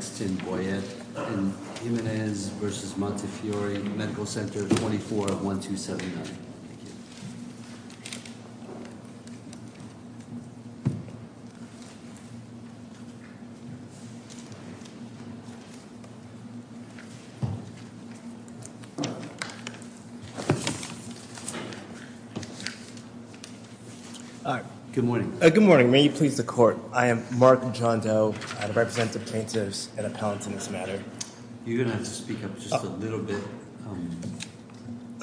24-1279. Good morning. Good morning. May you please the court. I am Mark John Doe, I represent the plaintiffs and appellants in this matter. You're going to have to speak up just a little bit.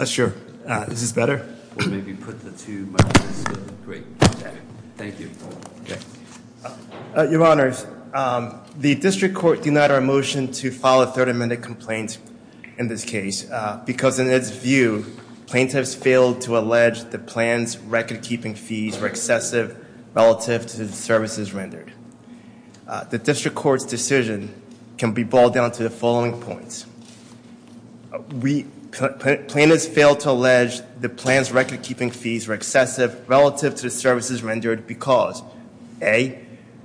Sure. Is this better? Your honors, the district court denied our motion to file a 30-minute complaint in this case because in its view plaintiffs failed to allege the plan's record-keeping fees were excessive relative to the services rendered. The district court's decision can be boiled down to the following points. We, plaintiffs failed to allege the plan's record-keeping fees were excessive relative to the services rendered because, A,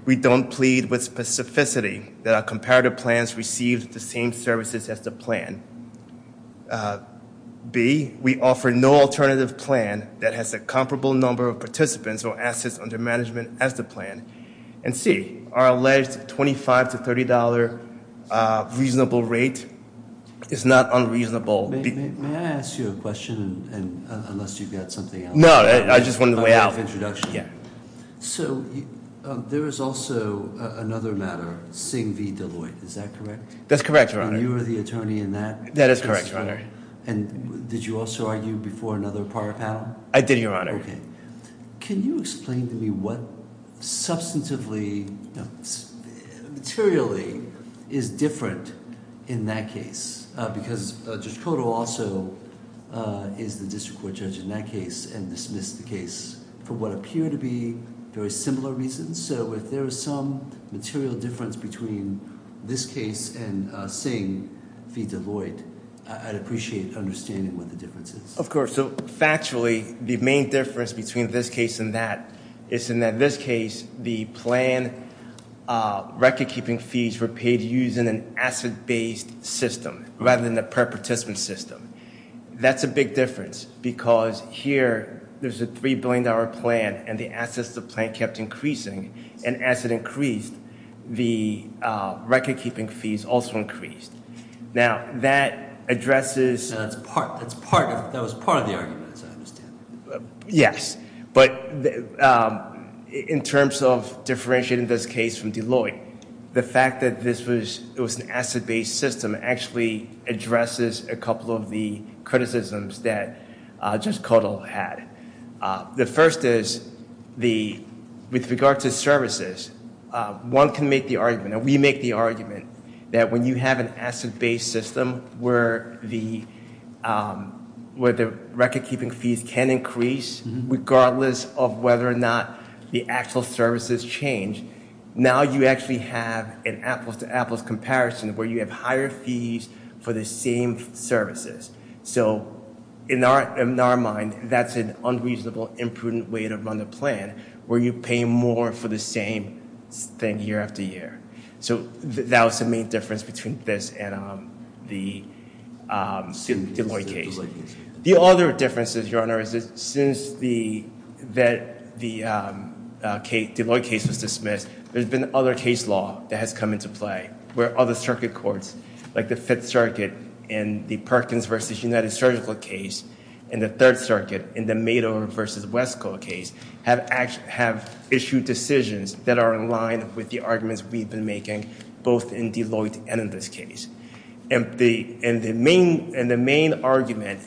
we don't plead with specificity that our comparative plans received the same services as the plan. B, we offer no alternative plan that has a comparable number of participants or assets under management as the plan and C, our alleged $25 to $30 reasonable rate is not unreasonable. May I ask you a question? No, I just wanted to weigh out the introduction. there is also another matter, Sing v. Deloitte, is that correct? That's correct, your honor. You are the attorney in that? That is correct, your honor. And did you also argue before another prior panel? I did, your honor. Can you explain to me what substantively, materially, is different in that case? Because Judge Cotto also is the district court judge in that case and dismissed the case for what appear to be very similar reasons. So if there is some material difference between this case and Sing v. Deloitte, I'd appreciate understanding what the difference is. Of course. Factually, the main difference between this case and that is in that this case the plan record-keeping fees were paid using an asset-based system rather than the per-participant system. That's a big difference because here there's a $3 billion plan and the assets of the plan kept increasing and as it increased the record-keeping fees also increased. Now that addresses... That was part of the argument, as I understand it. Yes, but in terms of differentiating this case from Deloitte, the fact that this was an asset-based system actually addresses a couple of the criticisms that Judge Cotto had. The first is, with regard to services, one can make the argument, and we make the argument, that when you have an asset-based system where the record-keeping fees can increase regardless of whether or not the actual services change, now you actually have an apples-to-apples comparison where you have higher fees for the same services. So in our mind, that's an unreasonable, imprudent way to run a plan where you pay more for the same thing year after year. So that was the main difference between this and the Deloitte case. The other difference is, Your Honor, is that since the Deloitte case was dismissed, there's been other case law that has come into play where other circuit courts, like the Fifth Circuit and the Perkins v. United Surgical case and the Third Circuit and the Mado v. Wesco case, have issued decisions that are in line with the arguments we've been making both in Deloitte and in this case. And the main argument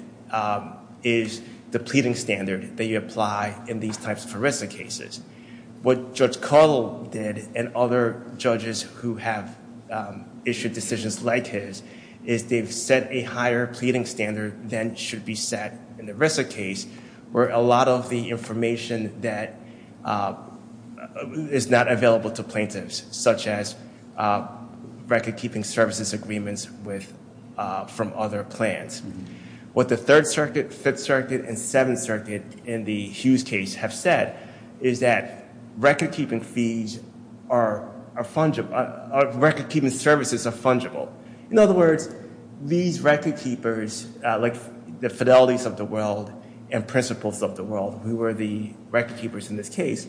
is the pleading standard that you apply in these types of ERISA cases. What Judge Cottle did and other judges who have issued decisions like his, is they've set a higher pleading standard than should be set in the ERISA case where a lot of the information that is not available to plaintiffs, such as record-keeping services agreements from other plans. What the Third Circuit, Fifth Circuit, and Seventh Circuit in the Hughes case have said is that record-keeping fees are fungible, record-keeping services are fungible. In other words, these record-keepers, like the Fidelities of the World and Principles of the World, who were the record-keepers in this case,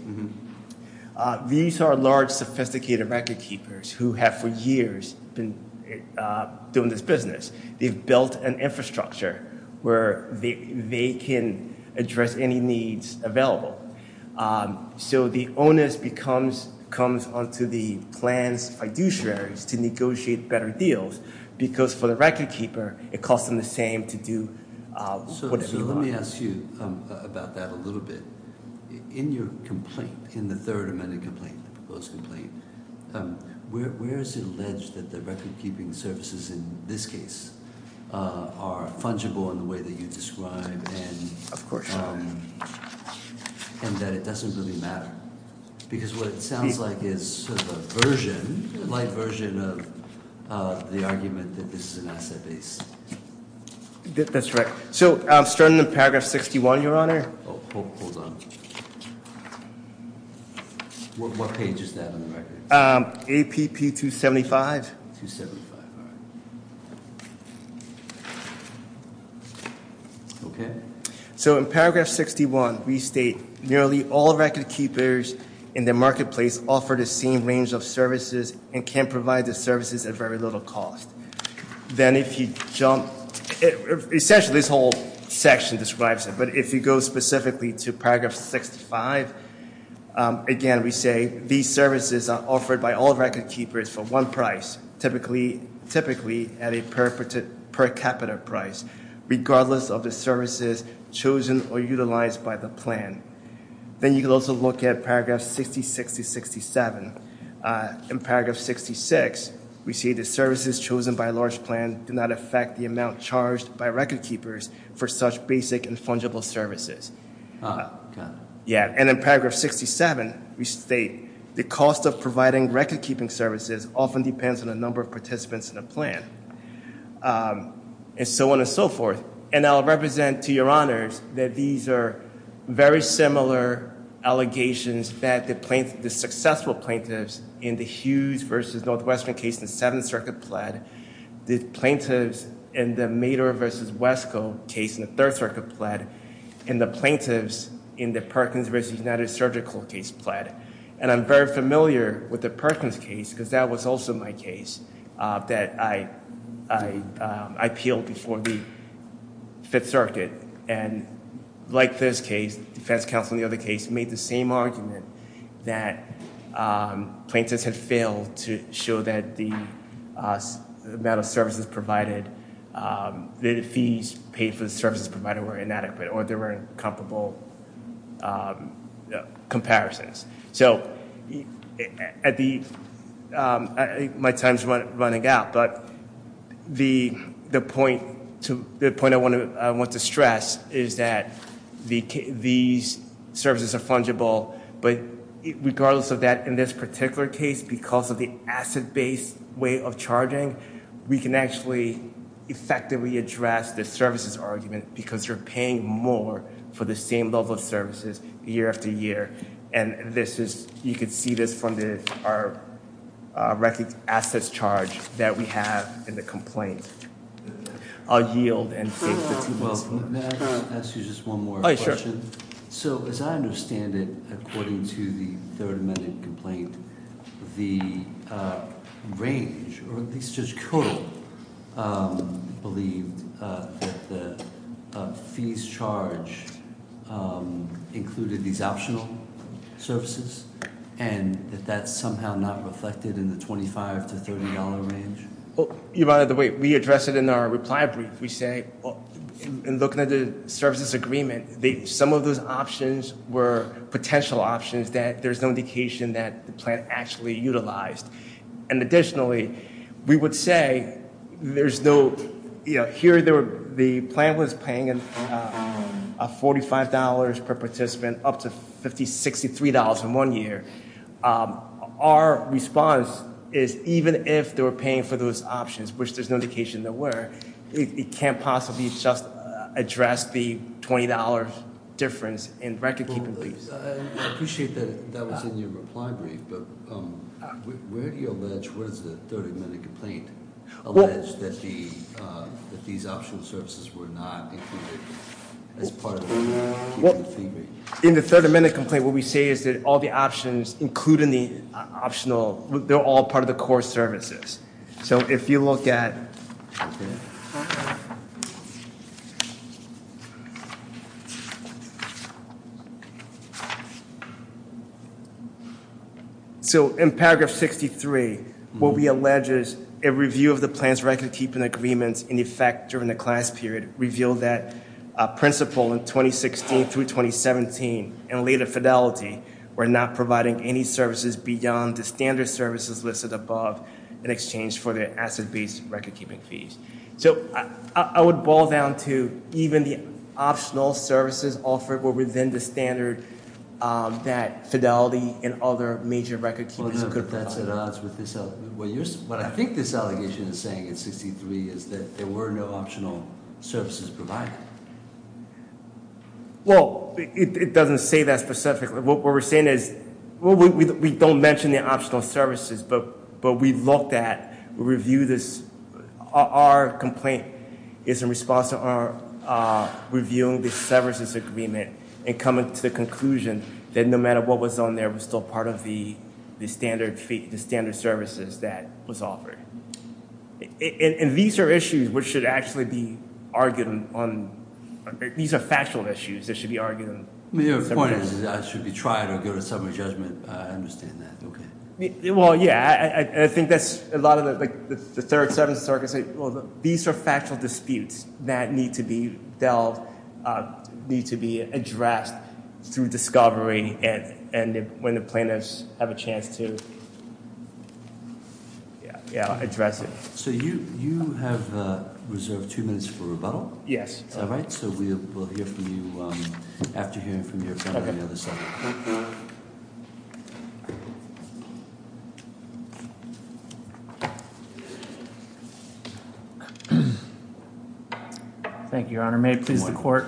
these are large, sophisticated record-keepers who have for years been doing this business. They've built an infrastructure where they can address any needs available. So the onus becomes, comes onto the plans fiduciaries to negotiate better deals because for the record-keeper, it costs them the same to do whatever you want. So let me ask you about that a little bit. In your complaint, in the third amended complaint, the proposed complaint, where is it alleged that the record-keeping services in this case are fungible in the way that you describe? Of course. And that it doesn't really matter because what it sounds like is a version, a light version of the argument that this is an asset base. That's right. So starting in paragraph 61, Your Honor. What page is that on the record? APP 275. Okay. So in paragraph 61, we state nearly all record-keepers in the marketplace offer the same range of services and can provide the services at very little cost. Then if you jump, essentially, this whole section describes it, but if you go specifically to paragraph 65, again, we say these services are offered by all record-keepers for one price, typically at a per capita price, regardless of the services chosen or utilized by the plan. Then you can also look at paragraph 66 to 67. In paragraph 66, we see the services chosen by a large plan do not affect the amount charged by record-keepers for such basic and fungible services. Yeah, and in paragraph 67, we state the cost of providing record-keeping services often depends on a number of participants in the plan. And so on and so forth. And I'll represent to Your Honors that these are very similar allegations that the successful plaintiffs in the Hughes versus Northwestern case in the Seventh Circuit pled, the plaintiffs in the Mader versus Wesco case in the Third Circuit pled, and the plaintiffs in the Perkins versus United Surgical case pled. And I'm very familiar with the Perkins case because that was also my case, that I appealed before the Fifth Circuit. And like this case, defense counsel in the other case made the same argument that plaintiffs had failed to show that the amount of services provided, that the fees paid for the services provided were inadequate or there were incomparable comparisons. So my time's running out, but the point I want to stress is that these services are fungible, but regardless of that, in this particular case, because of the asset-based way of charging, we can actually effectively address the services argument because you're paying more for the same level of services year after year. And this is, you can see this from our record assets charge that we have in the complaint. I'll yield and take the two minutes from it. So as I understand it, according to the Third Amendment complaint, the range, or at least Judge Kudlow believed that the fees charged included these optional services and that that's somehow not reflected in the $25 to $30 range. Your Honor, the way we address it in our reply brief, we say in looking at the services agreement, some of those options were potential options that there's no indication that the plan actually utilized. And additionally, we would say there's no, you know, here the plan was paying a $45 per participant up to $50, $60 in one year. Our response is even if they were paying for those options, which there's no indication there were, it can't possibly just address the $20 difference in record keeping fees. I appreciate that that was in your reply brief, but where do you allege, where does the Third Amendment complaint allege that these optional services were not as part of the fee rate? In the Third Amendment complaint, what we say is that all the options, including the optional, they're all part of the core services. So if you look at so in paragraph 63, what we allege is a review of the plans record keeping agreements in effect during the class period revealed that principal in 2016 through 2017 and later fidelity were not providing any services beyond the standard services listed above in exchange for the asset-based record keeping fees. So I would boil down to even the optional services offered were within the standard that fidelity and other major record keepers could provide. No, but that's at odds with this, what I think this allegation is saying in 63 is that there were no optional services provided. Well, it doesn't say that specifically. What we're saying is, we don't mention the optional services, but we looked at, we reviewed this. Our complaint is in response to our reviewing the services agreement and coming to the conclusion that no matter what was on there, it was still part of the standard services that was offered. And these are issues which should actually be argued on, these are factual issues that should be argued. The point is, I should be trying to get a summary judgment, I understand that, okay. Well, yeah, I think that's a lot of the third, seventh circuit. These are factual disputes that need to be dealt, need to be addressed through discovery and when the plaintiffs have a chance to. Yeah, yeah, I'll address it. So you, you have reserved two minutes for rebuttal? Yes. All right, so we'll hear from you after hearing from your family on the other side. Thank you, Your Honor. May it please the court.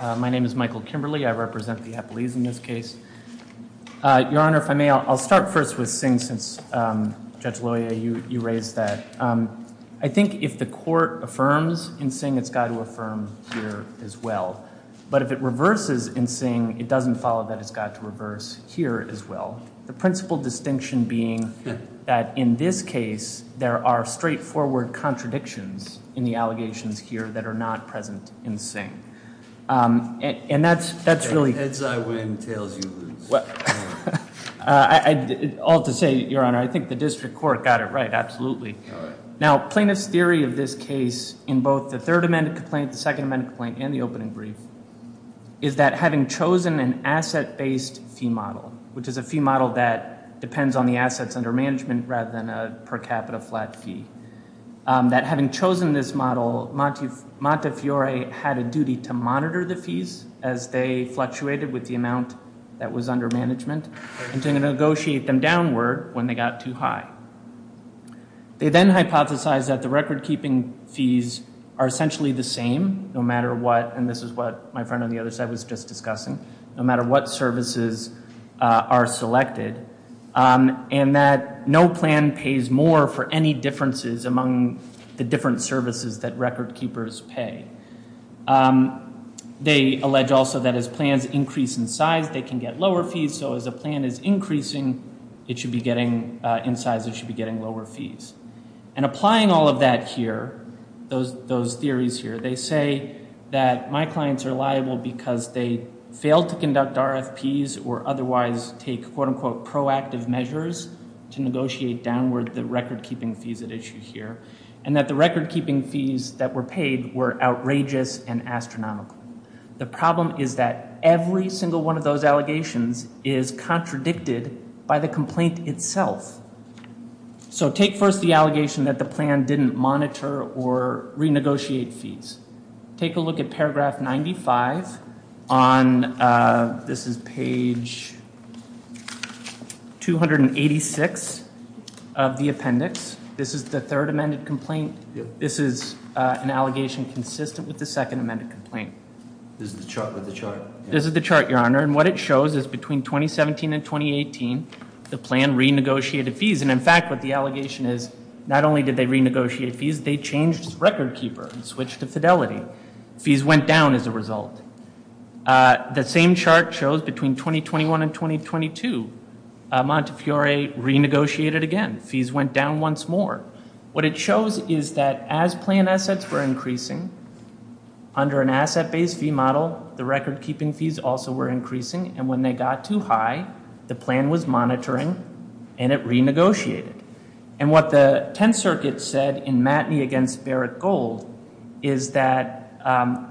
My name is Michael Kimberly. I represent the Eppolese in this case. Your Honor, if I may, I'll start first with Singh since Judge Loya, you raised that. I think if the court affirms in Singh, it's got to affirm here as well. But if it reverses in Singh, it doesn't follow that it's got to reverse here as well. The principal distinction being that in this case, there are straightforward contradictions in the allegations here that are not present in Singh. And that's, that's really... All to say, Your Honor, I think the district court got it right, absolutely. Now, plaintiff's theory of this case in both the third amendment complaint, the second amendment complaint, and the opening brief, is that having chosen an asset-based fee model, which is a fee model that depends on the assets under management rather than a per capita flat fee, that having chosen this model, Montefiore had a duty to monitor the fees as they fluctuated with the amount that was under management, and to negotiate them downward when they got too high. They then hypothesized that the record-keeping fees are essentially the same no matter what, and this is what my friend on the other side was just discussing, no matter what services are selected, and that no plan pays more for any differences among the different services that record-keepers pay. They allege also that as plans increase in size, they can get lower fees. So as a plan is increasing, it should be getting, in size, it should be getting lower fees. And applying all of that here, those, those theories here, they say that my clients are liable because they failed to conduct RFPs or otherwise take quote-unquote proactive measures to negotiate downward the record-keeping fees at issue here, and that the record-keeping fees that were paid were outrageous and astronomical. The problem is that every single one of those allegations is contradicted by the complaint itself. So take first the allegation that the plan didn't monitor or renegotiate fees. Take a look at paragraph 95 on, this is page 286 of the appendix. This is the third amended complaint. This is an allegation consistent with the second amended complaint. This is the chart, with the chart? This is the chart, your honor, and what it shows is between 2017 and 2018 the plan renegotiated fees. And in fact, what the allegation is, not only did they renegotiate fees, they changed record-keeper and switched to fidelity. Fees went down as a result. The same chart shows between 2021 and 2022. Montefiore renegotiated again. Fees went down once more. What it shows is that as plan assets were increasing, under an asset-based fee model, the record-keeping fees also were increasing, and when they got too high, the plan was monitoring and it renegotiated. And what the 10th circuit said in Matney against Barrett Gold, is that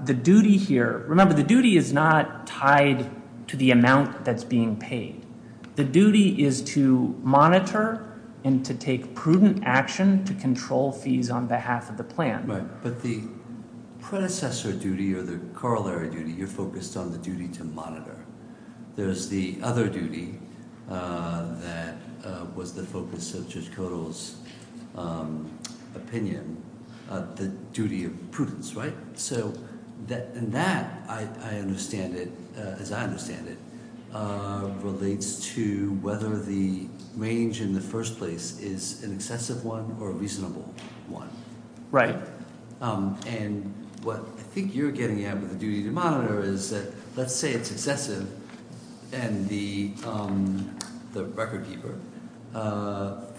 the duty here, remember the duty is not tied to the amount that's being paid. The duty is to monitor and to take prudent action to control fees on behalf of the plan. Right, but the predecessor duty or the corollary duty, you're focused on the duty to monitor. There's the other duty that was the focus of Judge Codall's opinion, the duty of prudence, right? So that, and that, I understand it, as I understand it, relates to whether the range in the first place is an excessive one or a reasonable one. Right. And what I think you're getting at with the duty to monitor is that let's say it's excessive and the the record-keeper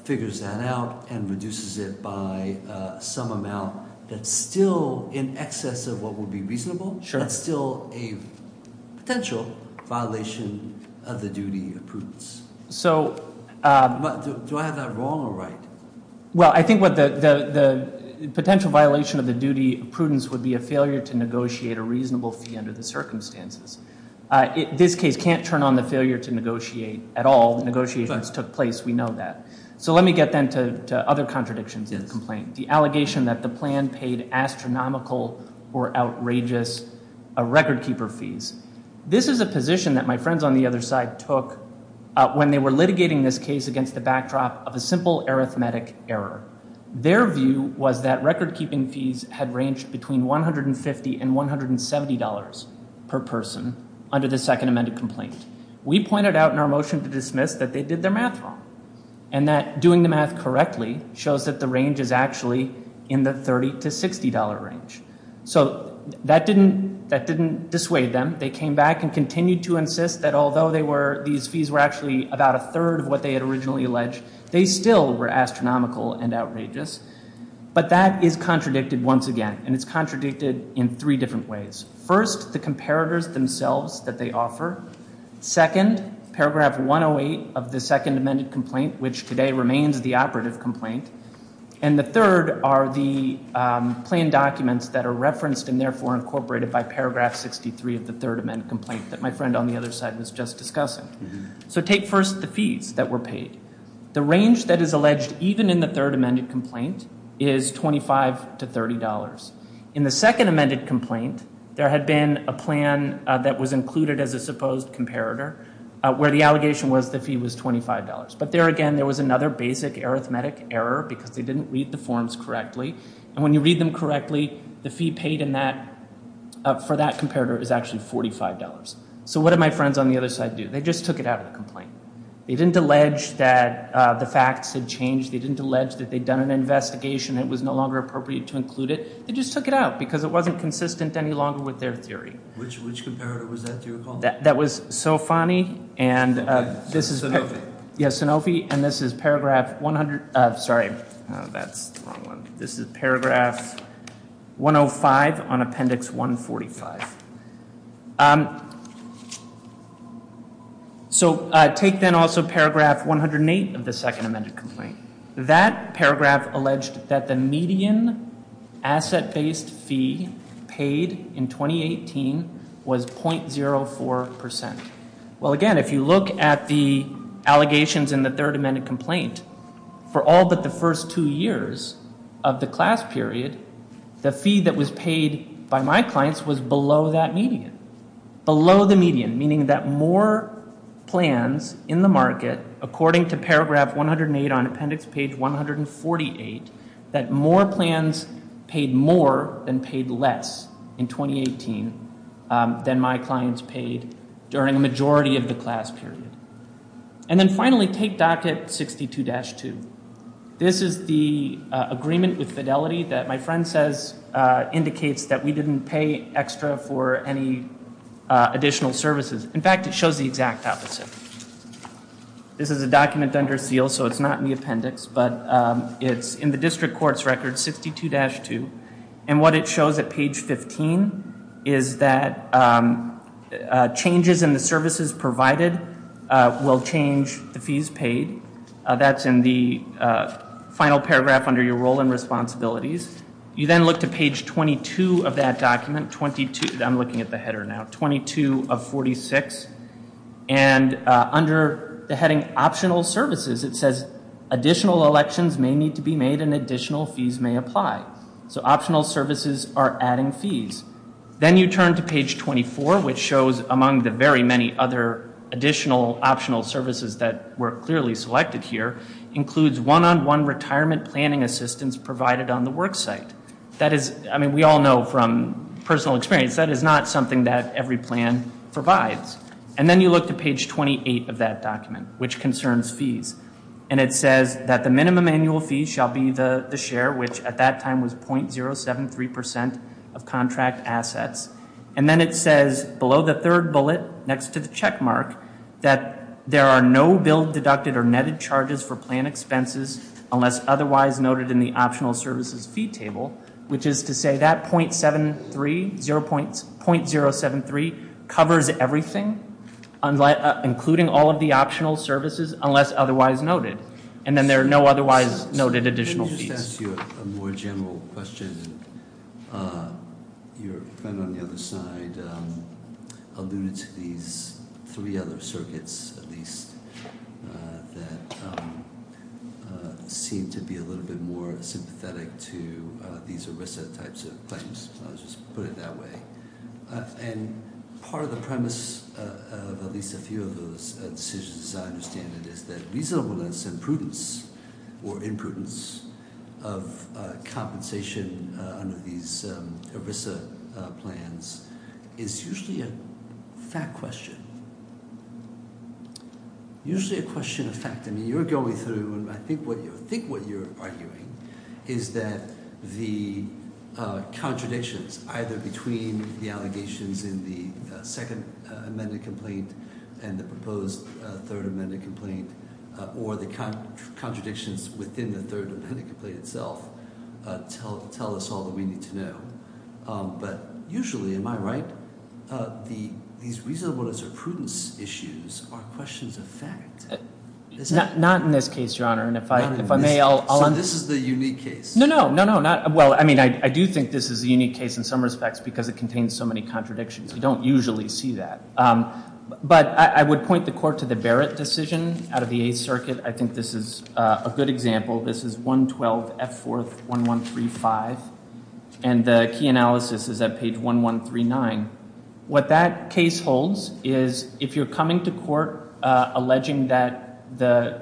figures that out and reduces it by some amount that's still in excess of what would be reasonable. Sure. That's still a potential violation of the duty of prudence. So, do I have that wrong or right? Well, I think what the potential violation of the duty of prudence would be a failure to negotiate a reasonable fee under the circumstances. This case can't turn on the failure to negotiate at all. Negotiations took place. We know that. So let me get then to other contradictions in the complaint. The allegation that the plan paid astronomical or outrageous record-keeper fees. This is a position that my friends on the other side took when they were litigating this case against the backdrop of a simple arithmetic error. Their view was that record-keeping fees had ranged between $150 and $170 per person under the Second Amendment complaint. We pointed out in our motion to dismiss that they did their math wrong and that doing the math correctly shows that the range is actually in the $30 to $60 range. So that didn't dissuade them. They came back and continued to insist that although these fees were actually about a third of what they had originally alleged, they still were astronomical and outrageous. But that is contradicted once again, and it's contradicted in three different ways. First, the comparators themselves that they offer. Second, paragraph 108 of the Second Amendment complaint, which today remains the operative complaint. And the third are the planned documents that are referenced and therefore incorporated by paragraph 63 of the Third Amendment complaint that my friend on the other side was just discussing. So take first the fees that were paid. The range that is alleged even in the Third Amendment complaint is $25 to $30. In the Second Amendment complaint, there had been a plan that was included as a supposed comparator where the allegation was the fee was $25. But there again, there was another basic arithmetic error because they didn't read the forms correctly. And when you read them correctly, the fee paid for that comparator is actually $45. So what did my friends on the other side do? They just took it out of the complaint. They didn't allege that the facts had changed. They didn't allege that they'd done an investigation. It was no longer appropriate to include it. They just took it out because it wasn't consistent any longer with their theory. Which comparator was that that you were calling? That was Sofani and this is- Yes, Sanofi, and this is paragraph 100, sorry, that's the wrong one. This is paragraph 105 on appendix 145. So take then also paragraph 108 of the Second Amendment complaint. That paragraph alleged that the median asset-based fee paid in 2018 was .04%. Well, again, if you look at the allegations in the Third Amendment complaint, for all but the first two years of the class period, the fee that was paid by my clients was below that median, below the median. Meaning that more plans in the market, according to paragraph 108 on appendix page 148, that more plans paid more than paid less in 2018 than my clients paid during a majority of the class period. And then finally, take docket 62-2. This is the agreement with Fidelity that my friend says indicates that we didn't pay extra for any additional services. In fact, it shows the exact opposite. This is a document under seal, so it's not in the appendix, but it's in the district court's record, 62-2. And what it shows at page 15 is that changes in the services provided will change the fees paid. That's in the final paragraph under your role and responsibilities. You then look to page 22 of that document, 22, I'm looking at the header now, 22 of 46. And under the heading optional services, it says additional elections may need to be made and additional fees may apply, so optional services are adding fees. Then you turn to page 24, which shows among the very many other additional optional services that were clearly selected here, includes one-on-one retirement planning assistance provided on the work site. That is, I mean, we all know from personal experience, that is not something that every plan provides. And then you look to page 28 of that document, which concerns fees. And it says that the minimum annual fee shall be the share, which at that time was .073% of contract assets. And then it says below the third bullet, next to the check mark, that there are no bill deducted or netted charges for plan expenses unless otherwise noted in the optional services fee table, which is to say that .073 covers everything, including all of the optional services, unless otherwise noted. And then there are no otherwise noted additional fees. Let me just ask you a more general question. Your friend on the other side alluded to these three other circuits, at least, that seem to be a little bit more sympathetic to these ERISA types of claims. I'll just put it that way. And part of the premise of at least a few of those decisions, as I understand it, is that reasonableness and prudence, or imprudence, of compensation under these ERISA plans is usually a fact question. Usually a question of fact. I mean, you're going through, and I think what you're arguing is that the contradictions, either between the allegations in the second amended complaint and the proposed third amended complaint, or the contradictions within the third amended complaint itself, tell us all that we need to know. But usually, am I right, these reasonableness or prudence issues are questions of fact. Not in this case, Your Honor. And if I may, I'll... So this is the unique case. No, no. No, no. Well, I mean, I do think this is a unique case in some respects because it contains so many contradictions. We don't usually see that. But I would point the court to the Barrett decision out of the Eighth Circuit. I think this is a good example. This is 112F4-1135. And the key analysis is at page 1139. What that case holds is if you're coming to court alleging that the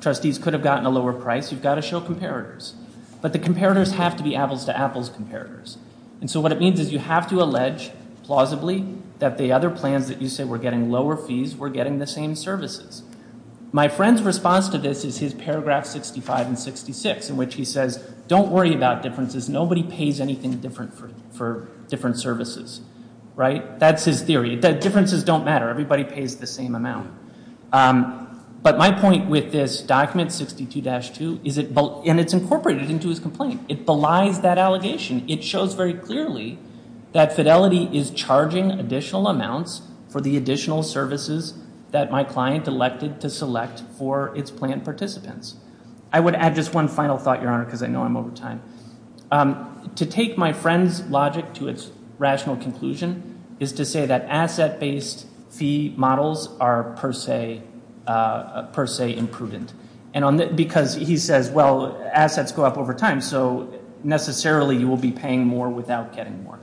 trustees could have gotten a lower price, you've got to show comparators. But the comparators have to be apples to apples comparators. And so what it means is you have to allege, plausibly, that the other plans that you say were getting lower fees were getting the same services. My friend's response to this is his paragraph 65 and 66 in which he says, don't worry about differences. Nobody pays anything different for different services. Right? That's his theory. The differences don't matter. Everybody pays the same amount. But my point with this document 62-2 is it... and it's incorporated into his complaint. It belies that allegation. It shows very clearly that Fidelity is charging additional amounts for the additional services that my client elected to select for its plan participants. I would add just one final thought, Your Honor, because I know I'm over time. To take my friend's logic to its rational conclusion is to say that asset-based fee models are per se imprudent. And because he says, well, assets go up over time, so necessarily you will be paying more without getting more.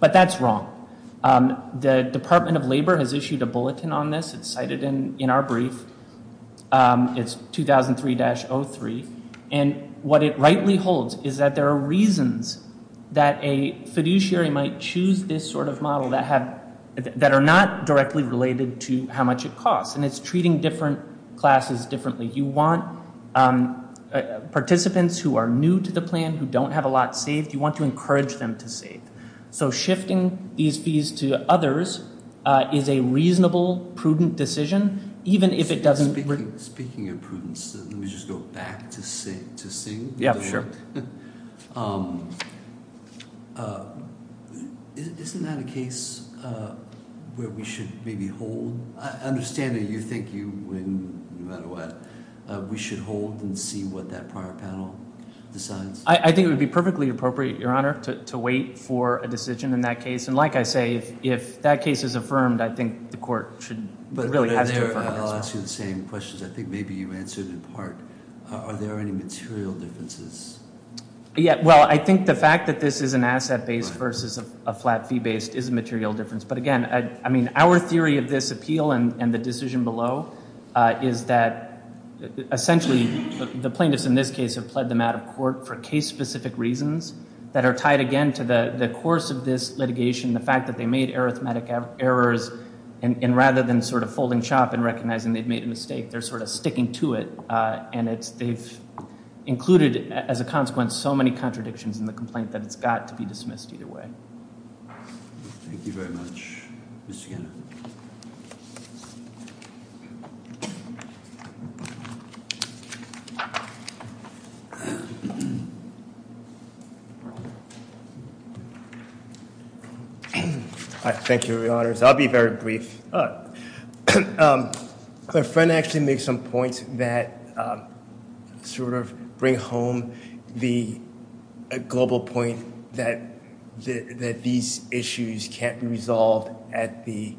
But that's wrong. The Department of Labor has issued a bulletin on this. It's cited in our brief. It's 2003-03. And what it rightly holds is that there are reasons that a fiduciary might choose this sort of model that have... that are not directly related to how much it costs. And it's treating different classes differently. You want participants who are new to the plan, who don't have a lot saved, you want to encourage them to save. So shifting these fees to others is a reasonable, prudent decision even if it doesn't... Speaking of prudence, let me just go back to Singh. Yeah, sure. Isn't that a case where we should maybe hold? I understand that you think you win no matter what. We should hold and see what that prior panel decides? I think it would be perfectly appropriate, Your Honor, to wait for a decision in that case. And like I say, if that case is affirmed, I think the court should... I'll ask you the same questions. I think maybe you answered in part. Are there any material differences? Yeah. Well, I think the fact that this is an asset-based versus a flat fee-based is a material difference. But again, I mean, our theory of this appeal and the decision below is that essentially the plaintiffs in this case have pled them out of court for case-specific reasons that are tied again to the course of this litigation, the fact that they made arithmetic errors, and rather than sort of folding chop and recognizing they'd made a mistake, they're sort of sticking to it. And they've included, as a consequence, so many contradictions in the complaint that it's got to be dismissed either way. Thank you very much, Mr. Gannon. Thank you, Your Honors. I'll be very brief. My friend actually made some points that sort of bring home the global point that these issues can't be resolved at the...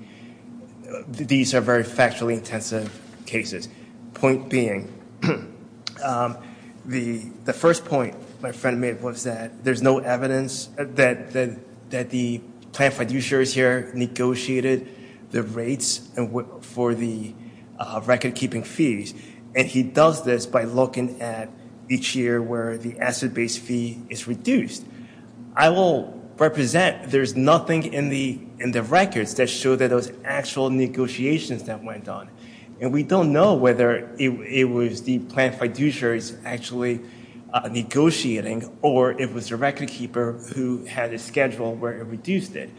These are very factually intensive cases. Point being, the first point my friend made was that there's no evidence that the plaintiff fiduciaries here negotiated the rates for the record-keeping fees. And he does this by looking at each year where the asset-based fee is reduced. I will represent there's nothing in the records that show that those actual negotiations that went on. And we don't know whether it was the plaintiff fiduciaries actually negotiating or it was the record-keeper who had a schedule where it reduced it.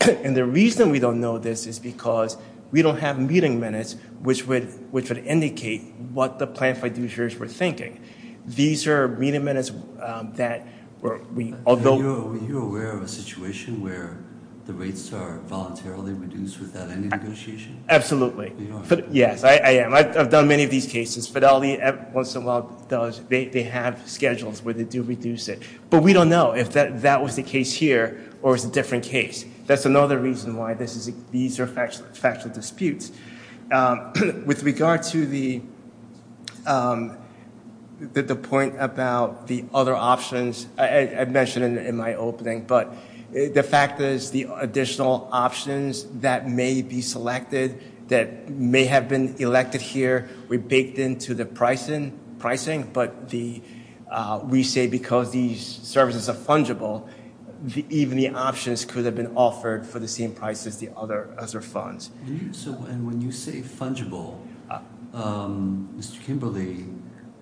And the reason we don't know this is because we don't have meeting minutes which would indicate what the plaintiff fiduciaries were thinking. These are meeting minutes that we, although... Are you aware of a situation where the rates are voluntarily reduced without any negotiation? Absolutely. Yes, I am. I've done many of these cases. Fidelity once in a while does, they have schedules where they do reduce it. But we don't know if that was the case here or it was a different case. That's another reason why these are factual disputes. With regard to the point about the other options, I mentioned in my opening, but the fact is the additional options that may be selected, that may have been elected here, we baked into the pricing, but we say because these services are fungible, even the options could have been offered for the same price as the other funds. And when you say fungible, Mr. Kimberly,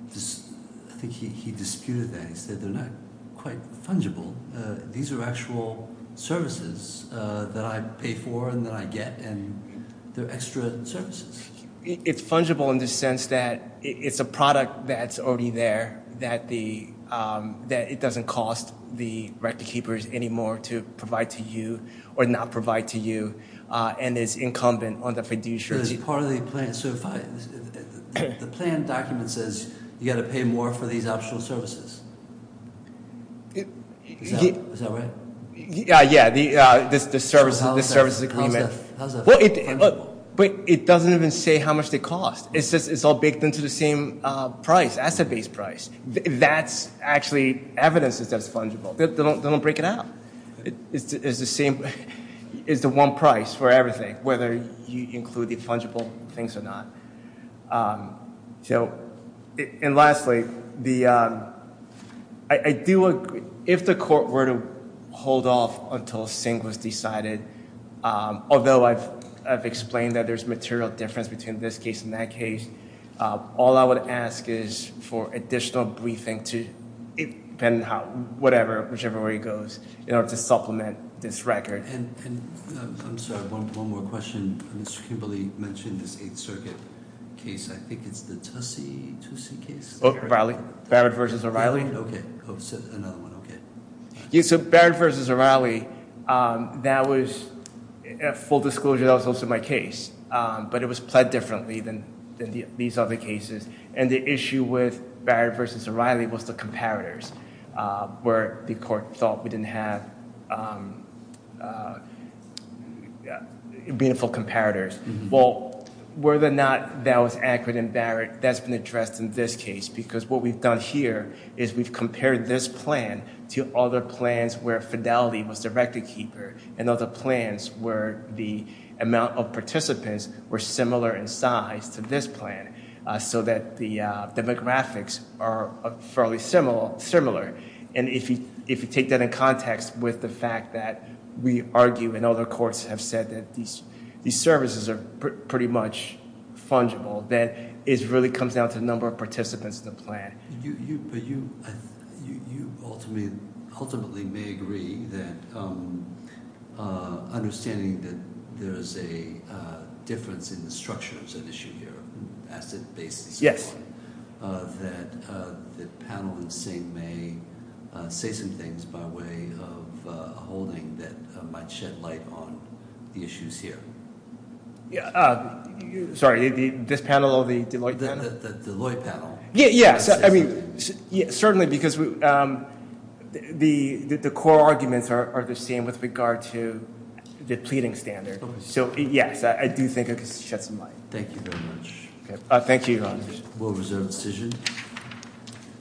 I think he disputed that. He said they're not quite fungible. These are actual services that I pay for and that I get, and they're extra services. It's fungible in the sense that it's a product that's already there, that it doesn't cost the record keepers anymore to provide to you or not provide to you and it's incumbent on the fiduciary. Is part of the plan, the plan document says you got to pay more for these optional services. Is that right? Yeah, yeah, the services agreement. How is that fungible? But it doesn't even say how much they cost. It says it's all baked into the same price, asset-based price. That's actually evidence that that's fungible. They don't break it out. It's the same, it's the one price for everything, whether you include the fungible things or not. So, and lastly, the, I do, if the court were to hold off until a sing was decided, although I've explained that there's material difference between this case and that case, all I would ask is for additional briefing to, depending on how, whatever, whichever way it goes, in order to supplement this record. And I'm sorry, one more question. Mr. Kimberley mentioned this 8th Circuit case. I think it's the Tussey, Tussey case. O'Reilly, Barrett versus O'Reilly. Okay, another one, okay. Yes, so Barrett versus O'Reilly, that was, at full disclosure, that was also my case. But it was played differently than these other cases. And the issue with Barrett versus O'Reilly was the comparators, where the court thought we didn't have meaningful comparators. Well, whether or not that was accurate in Barrett, that's been addressed in this case. Because what we've done here is we've compared this plan to other plans where fidelity was the record keeper, and other plans where the amount of participants were similar in size to this plan. So that the demographics are fairly similar. And if you take that in context with the fact that we argue, and other courts have said that these services are pretty much fungible, then it really comes down to the number of participants in the plan. You, but you, you ultimately may agree that understanding that there's a difference in the structure of that issue here, asset basis. That the panel in St. May say some things by way of a holding that might shed light on the issues here. Yeah, sorry, this panel or the Deloitte panel? Yeah, yeah, I mean, certainly because the core arguments are the same with regard to the pleading standard, so yes, I do think it could shed some light. Thank you very much. Thank you. We'll reserve the decision.